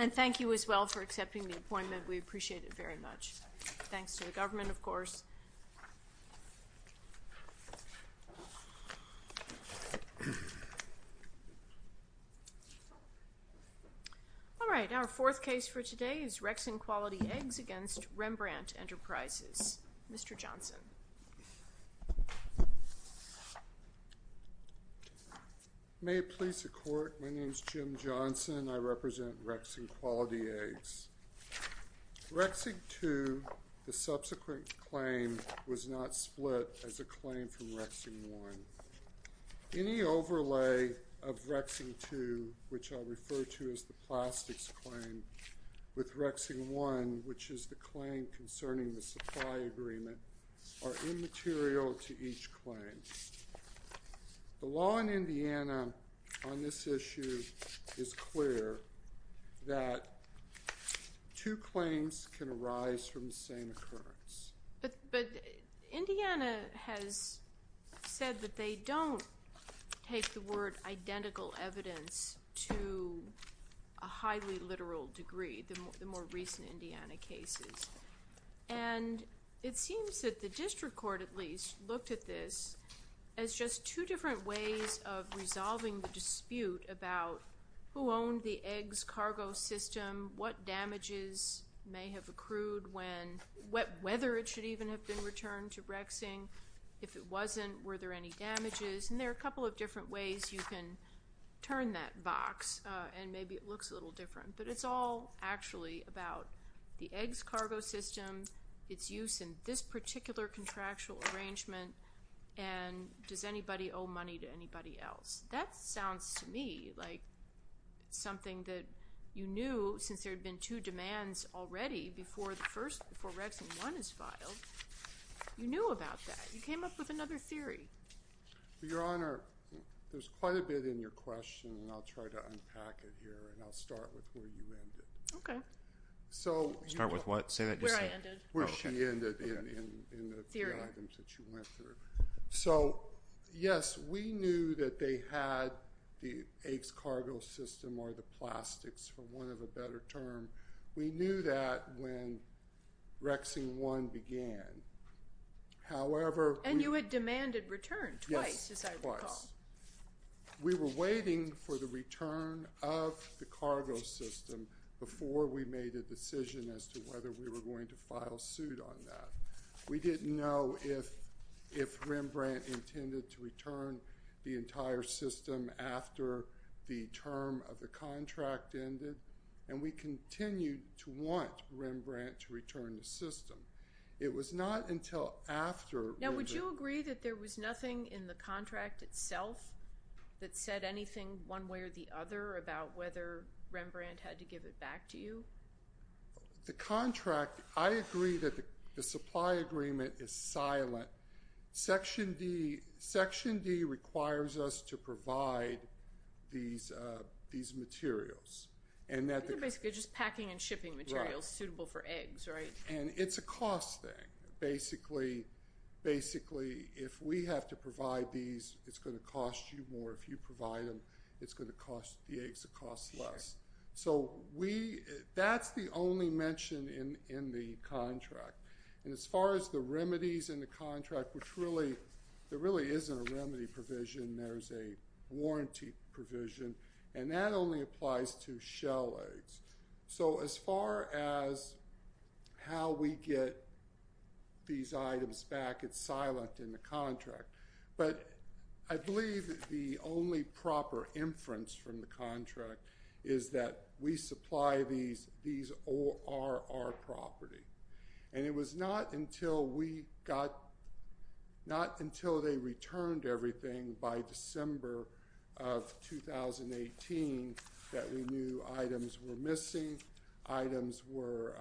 And thank you as well for accepting the appointment. We appreciate it very much. Thanks to the government, of course. All right. Our fourth case for today is Rexing Quality Eggs v. Rembrandt Enterprises. Mr. Johnson. May it please the Court. My name is Jim Johnson. I represent Rexing Quality Eggs. Rexing 2, the subsequent claim, was not split as a claim from Rexing 1. Any overlay of Rexing 2, which I'll refer to as the plastics claim, with Rexing 1, which is the claim concerning the supply agreement, are immaterial to each claim. The law in Indiana on this issue is clear that two claims can arise from the same occurrence. But Indiana has said that they don't take the word identical evidence to a highly literal degree, the more recent Indiana cases. And it seems that the district court, at least, looked at this as just two different ways of resolving the dispute about who owned the eggs cargo system, what damages may have accrued when, whether it should even have been returned to Rexing. If it wasn't, were there any damages? And there are a couple of different ways you can turn that box, and maybe it looks a little different. But it's all actually about the eggs cargo system, its use in this particular contractual arrangement, and does anybody owe money to anybody else. That sounds to me like something that you knew since there had been two demands already before Rexing 1 is filed. You knew about that. You came up with another theory. Your Honor, there's quite a bit in your question, and I'll try to unpack it here, and I'll start with where you ended. Okay. Start with what? Where I ended. Where she ended in the three items that you went through. So, yes, we knew that they had the eggs cargo system or the plastics, for want of a better term. We knew that when Rexing 1 began. However, we- And you had demanded return twice, as I recall. Yes, twice. We were waiting for the return of the cargo system before we made a decision as to whether we were going to file suit on that. We didn't know if Rembrandt intended to return the entire system after the term of the contract ended, and we continued to want Rembrandt to return the system. It was not until after- Now, would you agree that there was nothing in the contract itself that said anything one way or the other about whether Rembrandt had to give it back to you? The contract, I agree that the supply agreement is silent. Section D requires us to provide these materials, and that- They're basically just packing and shipping materials suitable for eggs, right? And it's a cost thing. Basically, if we have to provide these, it's going to cost you more. If you provide them, it's going to cost the eggs a cost less. So, that's the only mention in the contract. And as far as the remedies in the contract, there really isn't a remedy provision. There's a warranty provision, and that only applies to shell eggs. So, as far as how we get these items back, it's silent in the contract. But I believe the only proper inference from the contract is that we supply these, these are our property. And it was not until we got- Not until they returned everything by December of 2018 that we knew items were missing, items were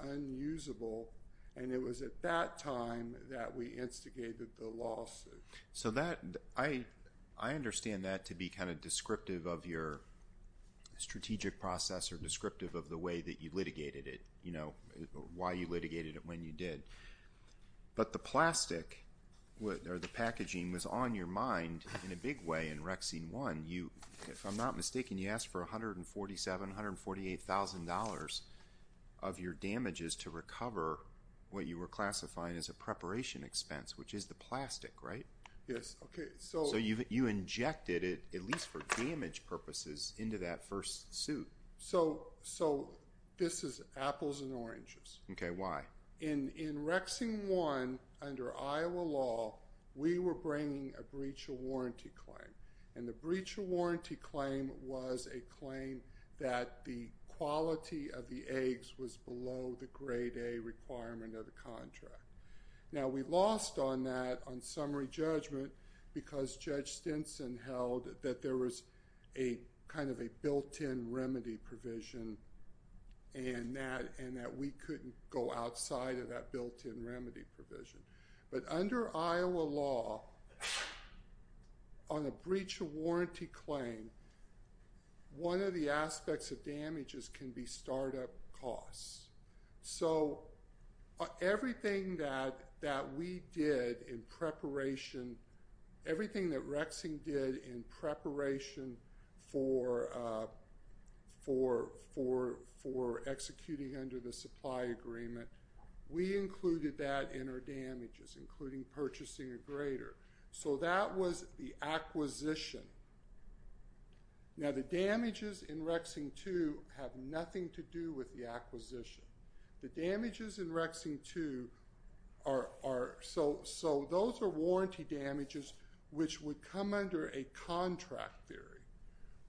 unusable, and it was at that time that we instigated the lawsuit. So, that- I understand that to be kind of descriptive of your strategic process, or descriptive of the way that you litigated it, you know, why you litigated it when you did. But the plastic, or the packaging, was on your mind in a big way in Rexine 1. If I'm not mistaken, you asked for $147,000, $148,000 of your damages to recover what you were classifying as a preparation expense, which is the plastic, right? Yes, okay, so- So, you injected it, at least for damage purposes, into that first suit. So, this is apples and oranges. Okay, why? In Rexine 1, under Iowa law, we were bringing a breach of warranty claim. And the breach of warranty claim was a claim that the quality of the eggs was below the grade A requirement of the contract. Now, we lost on that, on summary judgment, because Judge Stinson held that there was a kind of a built-in remedy provision, and that we couldn't go outside of that built-in remedy provision. But under Iowa law, on a breach of warranty claim, one of the aspects of damages can be startup costs. So, everything that we did in preparation, everything that Rexine did in preparation for executing under the supply agreement, we included that in our damages, including purchasing a grader. So, that was the acquisition. Now, the damages in Rexine 2 have nothing to do with the acquisition. The damages in Rexine 2 are- so, those are warranty damages which would come under a contract theory.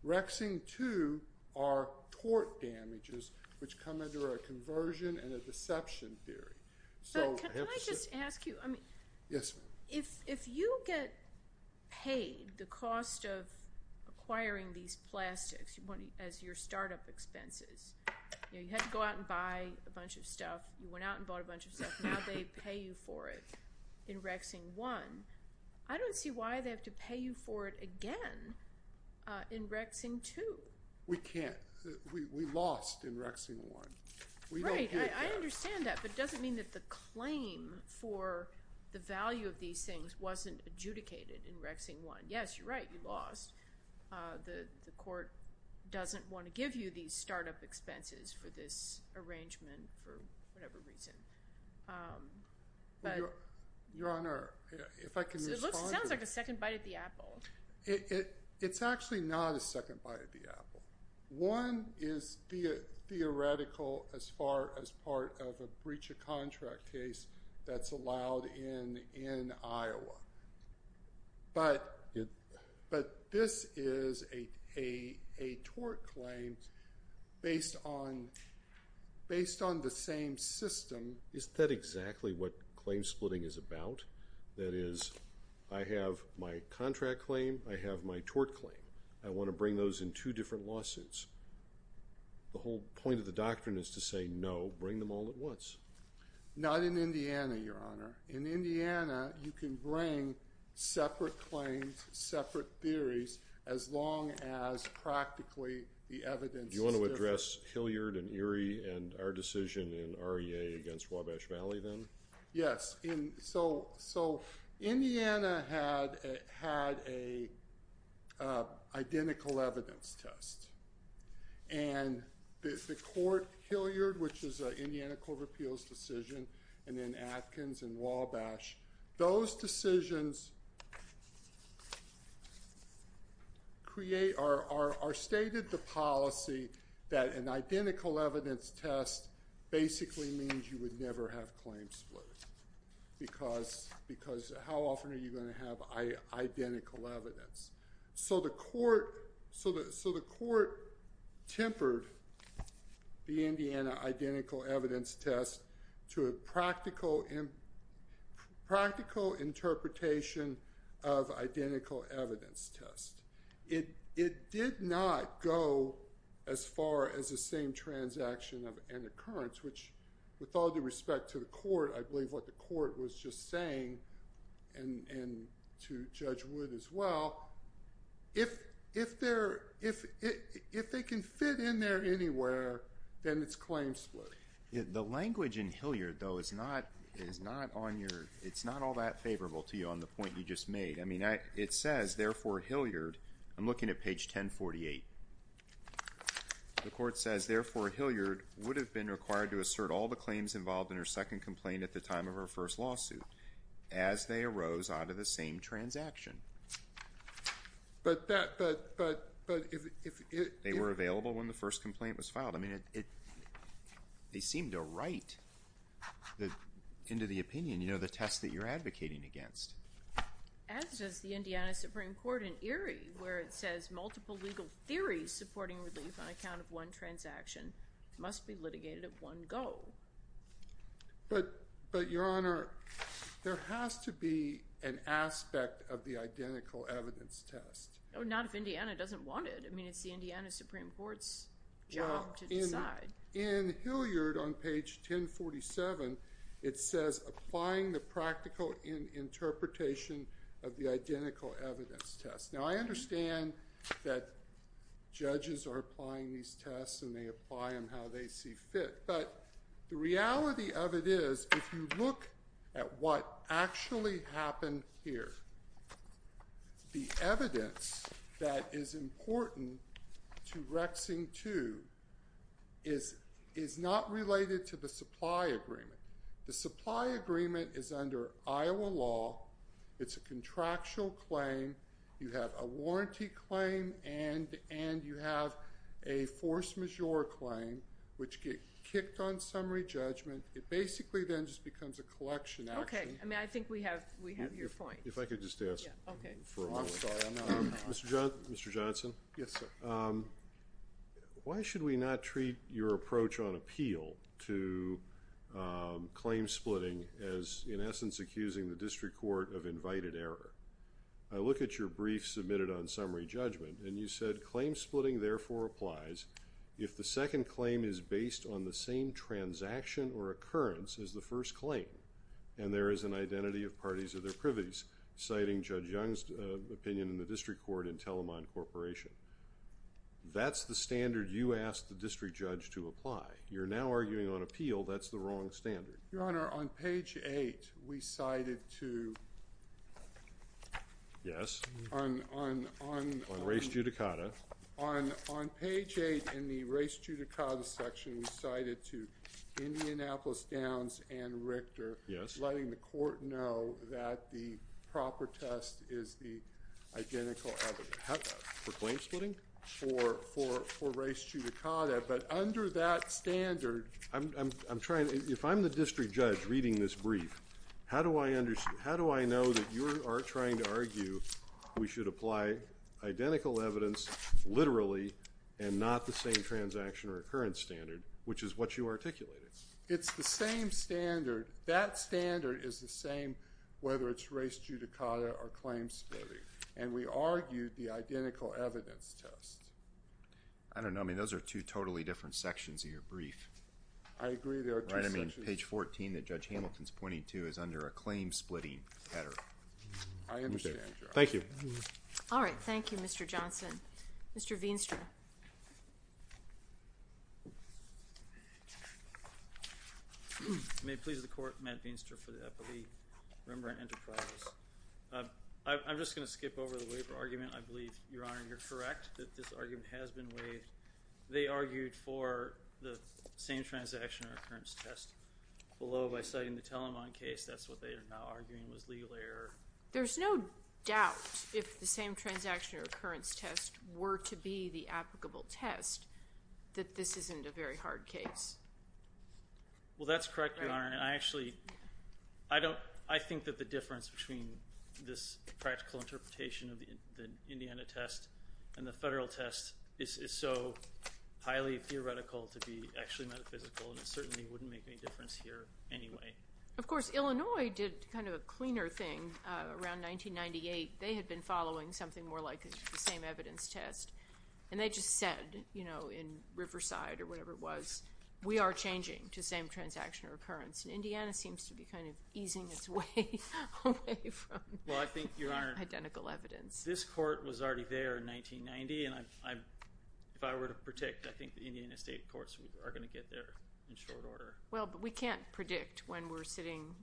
Rexine 2 are tort damages which come under a conversion and a deception theory. So- Can I just ask you- Yes, ma'am. If you get paid the cost of acquiring these plastics as your startup expenses, you had to go out and buy a bunch of stuff. You went out and bought a bunch of stuff. Now, they pay you for it in Rexine 1. I don't see why they have to pay you for it again in Rexine 2. We can't. We lost in Rexine 1. We don't get that. Right. I understand that. But it doesn't mean that the claim for the value of these things wasn't adjudicated in Rexine 1. Yes, you're right. You lost. The court doesn't want to give you these startup expenses for this arrangement for whatever reason. Your Honor, if I can respond to- It sounds like a second bite at the apple. It's actually not a second bite at the apple. One is theoretical as far as part of a breach of contract case that's allowed in Iowa. But this is a tort claim based on the same system. Isn't that exactly what claim splitting is about? That is, I have my contract claim. I have my tort claim. I want to bring those in two different lawsuits. The whole point of the doctrine is to say, no, bring them all at once. Not in Indiana, Your Honor. In Indiana, you can bring separate claims, separate theories, as long as practically the evidence is different. You want to address Hilliard and Erie and our decision in REA against Wabash Valley then? Yes. So, Indiana had an identical evidence test. And the court, Hilliard, which is an Indiana Court of Appeals decision, and then Atkins and Wabash, those decisions are stated the policy that an identical evidence test basically means you would never have claim split. Because how often are you going to have identical evidence? So the court tempered the Indiana identical evidence test to a practical interpretation of identical evidence test. It did not go as far as the same transaction of an occurrence, which with all due respect to the court, I believe what the court was just saying, and to Judge Wood as well, if they can fit in there anywhere, then it's claim split. The language in Hilliard, though, is not all that favorable to you on the point you just made. I mean, it says, therefore, Hilliard. I'm looking at page 1048. The court says, therefore, Hilliard would have been required to assert all the claims involved in her second complaint at the time of her first lawsuit, as they arose out of the same transaction. But that, but, but, but if it. They were available when the first complaint was filed. I mean, they seem to write into the opinion, you know, the test that you're advocating against. As does the Indiana Supreme Court in Erie, where it says multiple legal theories supporting relief on account of one transaction must be litigated at one go. But, but, Your Honor, there has to be an aspect of the identical evidence test. Not if Indiana doesn't want it. I mean, it's the Indiana Supreme Court's job to decide. In Hilliard, on page 1047, it says applying the practical interpretation of the identical evidence test. Now, I understand that judges are applying these tests and they apply them how they see fit. But the reality of it is, if you look at what actually happened here, the evidence that is important to Rexing II is not related to the supply agreement. The supply agreement is under Iowa law. It's a contractual claim. You have a warranty claim and you have a force majeure claim, which gets kicked on summary judgment. It basically then just becomes a collection action. Okay. I mean, I think we have your point. If I could just ask for a moment. I'm sorry. I'm not. Mr. Johnson. Yes, sir. Why should we not treat your approach on appeal to claim splitting as, in essence, accusing the district court of invited error? I look at your brief submitted on summary judgment, and you said, Claim splitting, therefore, applies if the second claim is based on the same transaction or occurrence as the first claim, and there is an identity of parties of their privities, citing Judge Young's opinion in the district court and Telamon Corporation. That's the standard you asked the district judge to apply. You're now arguing on appeal that's the wrong standard. Your Honor, on page eight, we cited to. Yes. On race judicata. On page eight in the race judicata section, we cited to Indianapolis Downs and Richter. Yes. Letting the court know that the proper test is the identical evidence. For claim splitting? For race judicata, but under that standard. If I'm the district judge reading this brief, how do I know that you are trying to argue we should apply identical evidence literally and not the same transaction or occurrence standard, which is what you articulated? It's the same standard. That standard is the same whether it's race judicata or claim splitting, and we argued the identical evidence test. I don't know. I mean, those are two totally different sections of your brief. I agree there are two sections. Right? I mean, page 14 that Judge Hamilton is pointing to is under a claim splitting header. I understand, Your Honor. Thank you. All right. Thank you, Mr. Johnson. Mr. Veenstra. May it please the court, Matt Veenstra for the Epilee Rembrandt Enterprises. I'm just going to skip over the waiver argument. I believe, Your Honor, you're correct that this argument has been waived. They argued for the same transaction or occurrence test below by citing the Telamon case. That's what they are now arguing was legal error. There's no doubt if the same transaction or occurrence test were to be the applicable test that this isn't a very hard case. Well, that's correct, Your Honor. I think that the difference between this practical interpretation of the Indiana test and the federal test is so highly theoretical to be actually metaphysical, and it certainly wouldn't make any difference here anyway. Of course, Illinois did kind of a cleaner thing around 1998. They had been following something more like the same evidence test, and they just said, you know, in Riverside or whatever it was, we are changing to same transaction or occurrence, and Indiana seems to be kind of easing its way away from identical evidence. Well, I think, Your Honor, this court was already there in 1990, and if I were to predict, I think the Indiana state courts are going to get there in short order. Well, but we can't predict when we're sitting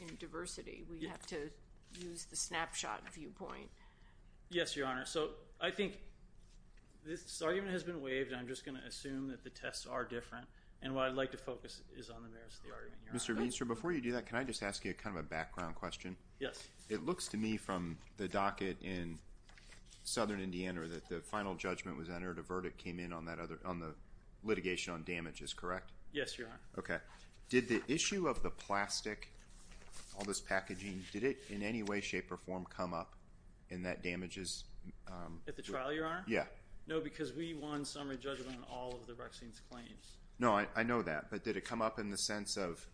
in diversity. We have to use the snapshot viewpoint. Yes, Your Honor. So I think this argument has been waived, and I'm just going to assume that the tests are different, and what I'd like to focus is on the merits of the argument, Your Honor. Mr. Meenscher, before you do that, can I just ask you kind of a background question? Yes. It looks to me from the docket in southern Indiana that the final judgment was entered. A verdict came in on the litigation on damages, correct? Yes, Your Honor. Okay. Did the issue of the plastic, all this packaging, did it in any way, shape, or form come up in that damages? At the trial, Your Honor? Yes. No, because we won summary judgment on all of the vaccines claims. No, I know that, but did it come up in the sense of,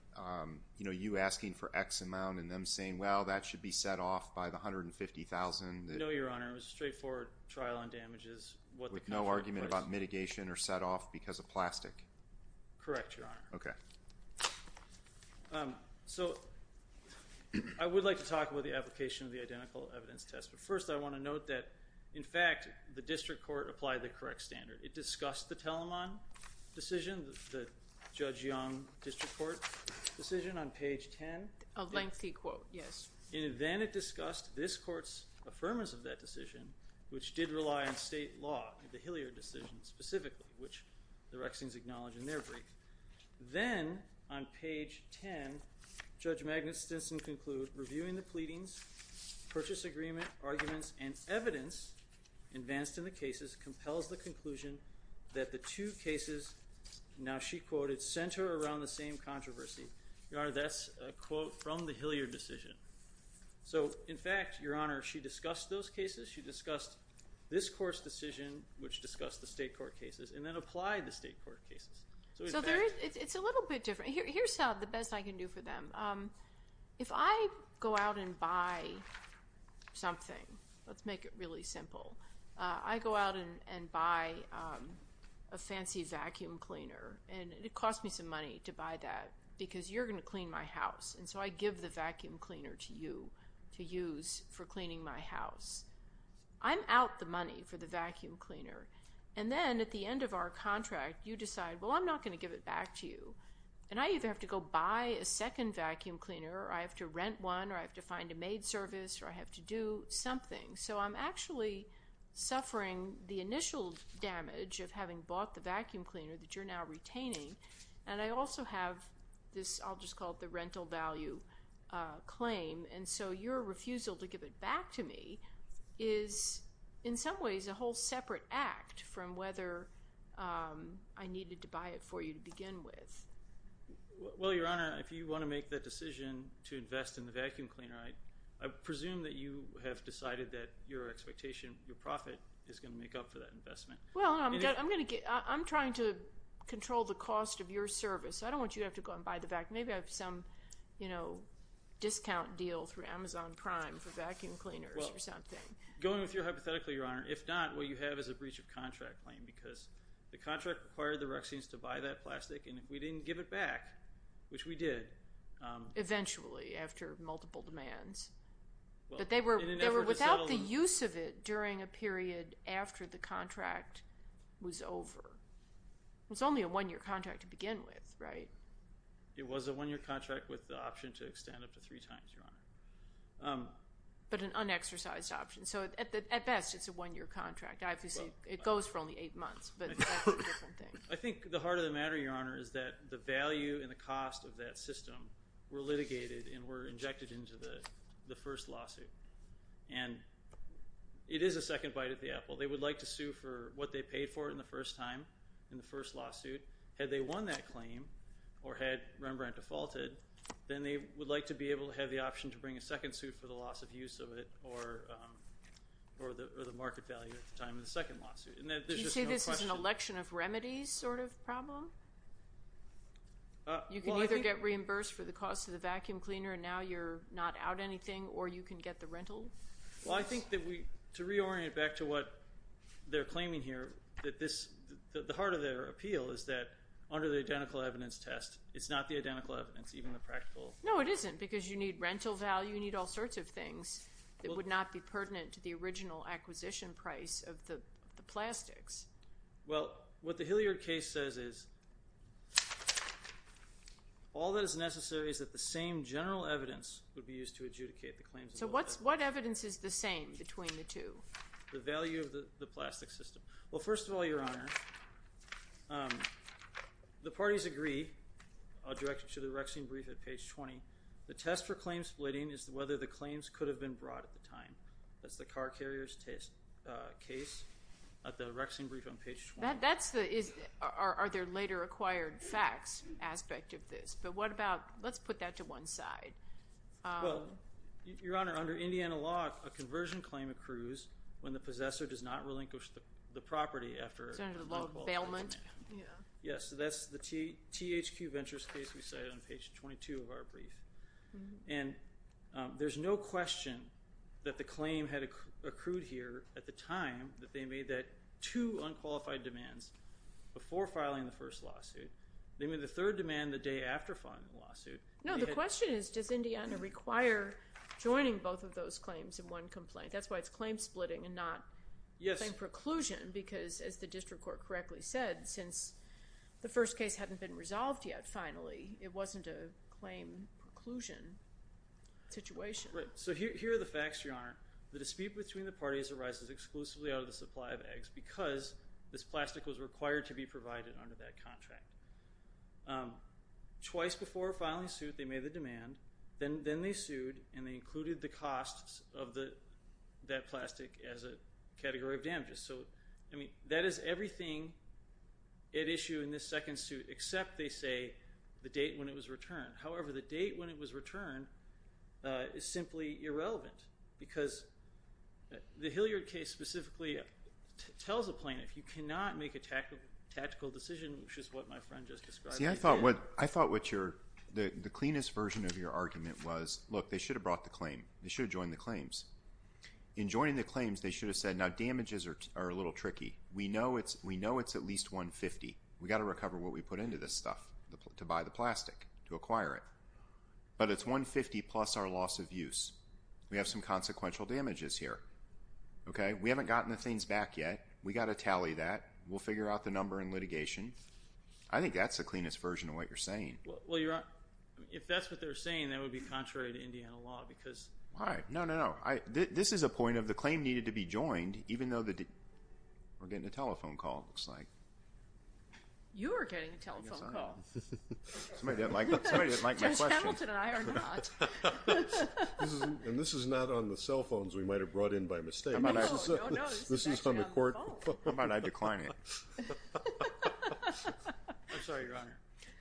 you know, you asking for X amount and them saying, well, that should be set off by the $150,000? No, Your Honor. It was a straightforward trial on damages. With no argument about mitigation or set off because of plastic? Correct, Your Honor. Okay. So I would like to talk about the application of the identical evidence test, but first I want to note that, in fact, the district court applied the correct standard. It discussed the Telemann decision, the Judge Young district court decision on page 10. A lengthy quote, yes. Then it discussed this court's affirmance of that decision, which did rely on state law, the Hilliard decision specifically, which the Rexings acknowledged in their brief. Then on page 10, Judge Magnus Stinson concluded, reviewing the pleadings, purchase agreement, arguments, and evidence advanced in the cases compels the conclusion that the two cases, now she quoted, center around the same controversy. Your Honor, that's a quote from the Hilliard decision. So, in fact, Your Honor, she discussed those cases. She discussed this court's decision, which discussed the state court cases, and then applied the state court cases. So it's a little bit different. Here's the best I can do for them. If I go out and buy something, let's make it really simple. I go out and buy a fancy vacuum cleaner, and it costs me some money to buy that because you're going to clean my house, and so I give the vacuum cleaner to you to use for cleaning my house. I'm out the money for the vacuum cleaner, and then at the end of our contract, you decide, well, I'm not going to give it back to you, and I either have to go buy a second vacuum cleaner, or I have to rent one, or I have to find a maid service, or I have to do something. So I'm actually suffering the initial damage of having bought the vacuum cleaner that you're now retaining, and I also have this, I'll just call it the rental value claim, and so your refusal to give it back to me is, in some ways, a whole separate act from whether I needed to buy it for you to begin with. Well, Your Honor, if you want to make that decision to invest in the vacuum cleaner, I presume that you have decided that your expectation, your profit is going to make up for that investment. Well, I'm trying to control the cost of your service. I don't want you to have to go and buy the vacuum cleaner. Maybe I have some discount deal through Amazon Prime for vacuum cleaners or something. Going with your hypothetical, Your Honor, if not, what you have is a breach of contract claim because the contract required the Rexians to buy that plastic, and if we didn't give it back, which we did. Eventually, after multiple demands. But they were without the use of it during a period after the contract was over. It was only a one-year contract to begin with, right? It was a one-year contract with the option to extend up to three times, Your Honor. But an unexercised option. So, at best, it's a one-year contract. Obviously, it goes for only eight months, but that's a different thing. I think the heart of the matter, Your Honor, is that the value and the cost of that system were litigated and were injected into the first lawsuit. And it is a second bite at the apple. They would like to sue for what they paid for it in the first time in the first lawsuit. Had they won that claim or had Rembrandt defaulted, then they would like to be able to have the option to bring a second suit for the loss of use of it or the market value at the time of the second lawsuit. Did you say this is an election of remedies sort of problem? You can either get reimbursed for the cost of the vacuum cleaner and now you're not out anything or you can get the rental? Well, I think that we, to reorient back to what they're claiming here, that the heart of their appeal is that under the identical evidence test, it's not the identical evidence, even the practical. No, it isn't because you need rental value. You need all sorts of things that would not be pertinent to the original acquisition price of the plastics. Well, what the Hilliard case says is all that is necessary is that the same general evidence would be used to adjudicate the claims. So what evidence is the same between the two? The value of the plastic system. Well, first of all, Your Honor, the parties agree. I'll direct you to the Rexing brief at page 20. The test for claim splitting is whether the claims could have been brought at the time. That's the car carrier's case at the Rexing brief on page 20. Are there later acquired facts aspect of this? But what about, let's put that to one side. Well, Your Honor, under Indiana law, a conversion claim accrues when the possessor does not relinquish the property after an unqualified demand. It's under the law of bailment. Yes, so that's the THQ Ventures case we cited on page 22 of our brief. And there's no question that the claim had accrued here at the time that they made that two unqualified demands before filing the first lawsuit. No, the question is, does Indiana require joining both of those claims in one complaint? That's why it's claim splitting and not claim preclusion because, as the district court correctly said, since the first case hadn't been resolved yet, finally, it wasn't a claim preclusion situation. So here are the facts, Your Honor. The dispute between the parties arises exclusively out of the supply of eggs because this plastic was required to be provided under that contract. Twice before filing the suit, they made the demand, then they sued, and they included the costs of that plastic as a category of damages. So, I mean, that is everything at issue in this second suit except, they say, the date when it was returned. However, the date when it was returned is simply irrelevant because the Hilliard case specifically tells a plaintiff you cannot make a tactical decision, which is what my friend just described. See, I thought the cleanest version of your argument was, look, they should have brought the claim. They should have joined the claims. In joining the claims, they should have said, now, damages are a little tricky. We know it's at least $150. We've got to recover what we put into this stuff to buy the plastic, to acquire it. But it's $150 plus our loss of use. We have some consequential damages here. We haven't gotten the things back yet. We've got to tally that. We'll figure out the number in litigation. I think that's the cleanest version of what you're saying. Well, you're right. If that's what they're saying, that would be contrary to Indiana law because. Why? No, no, no. This is a point of the claim needed to be joined even though we're getting a telephone call, it looks like. You are getting a telephone call. Somebody didn't like my question. Judge Hamilton and I are not. And this is not on the cell phones we might have brought in by mistake. No, no, this is actually on the phone. How about I decline it? I'm sorry, Your Honor.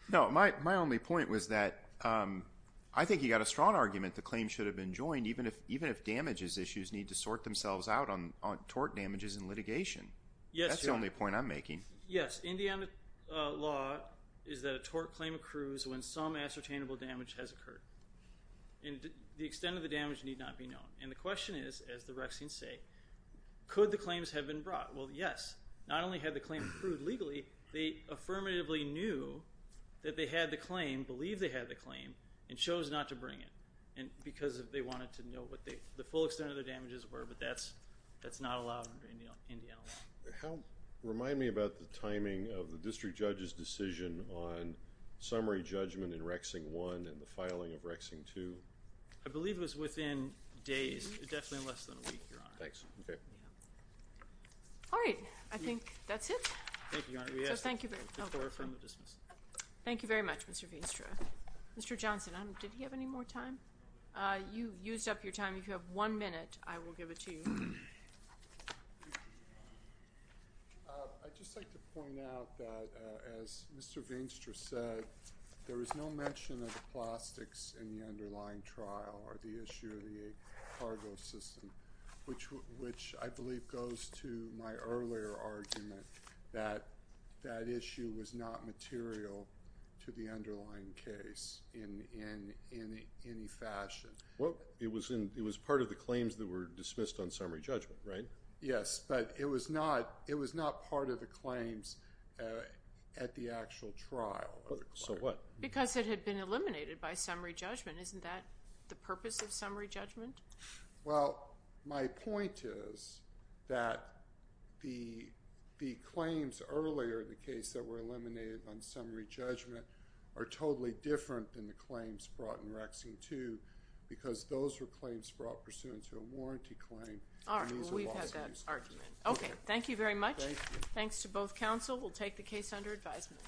No, my only point was that I think you've got a strong argument the claim should have been joined even if damages issues need to sort themselves out on tort damages in litigation. Yes, Your Honor. That's the only point I'm making. Yes, Indiana law is that a tort claim accrues when some ascertainable damage has occurred. And the extent of the damage need not be known. And the question is, as the Rexings say, could the claims have been brought? Well, yes. Not only had the claim accrued legally, they affirmatively knew that they had the claim, believed they had the claim, and chose not to bring it because they wanted to know what the full extent of the damages were, but that's not allowed under Indiana law. Remind me about the timing of the district judge's decision on summary judgment in Rexing I and the filing of Rexing II. I believe it was within days, definitely less than a week, Your Honor. Thanks. Okay. All right. I think that's it. Thank you, Your Honor. Thank you very much, Mr. Veenstra. Mr. Johnson, did he have any more time? You used up your time. If you have one minute, I will give it to you. I'd just like to point out that as Mr. Veenstra said, there is no mention of the plastics in the underlying trial or the issue of the cargo system, which I believe goes to my earlier argument that that issue was not material to the underlying case in any fashion. Well, it was part of the claims that were dismissed on summary judgment, right? Yes, but it was not part of the claims at the actual trial. So what? Because it had been eliminated by summary judgment. Isn't that the purpose of summary judgment? Well, my point is that the claims earlier in the case that were eliminated on summary judgment are totally different than the claims brought in Rexing II because those were claims brought pursuant to a warranty claim. All right. We've had that argument. Okay. Thank you very much. Thanks to both counsel. We'll take the case under advisement.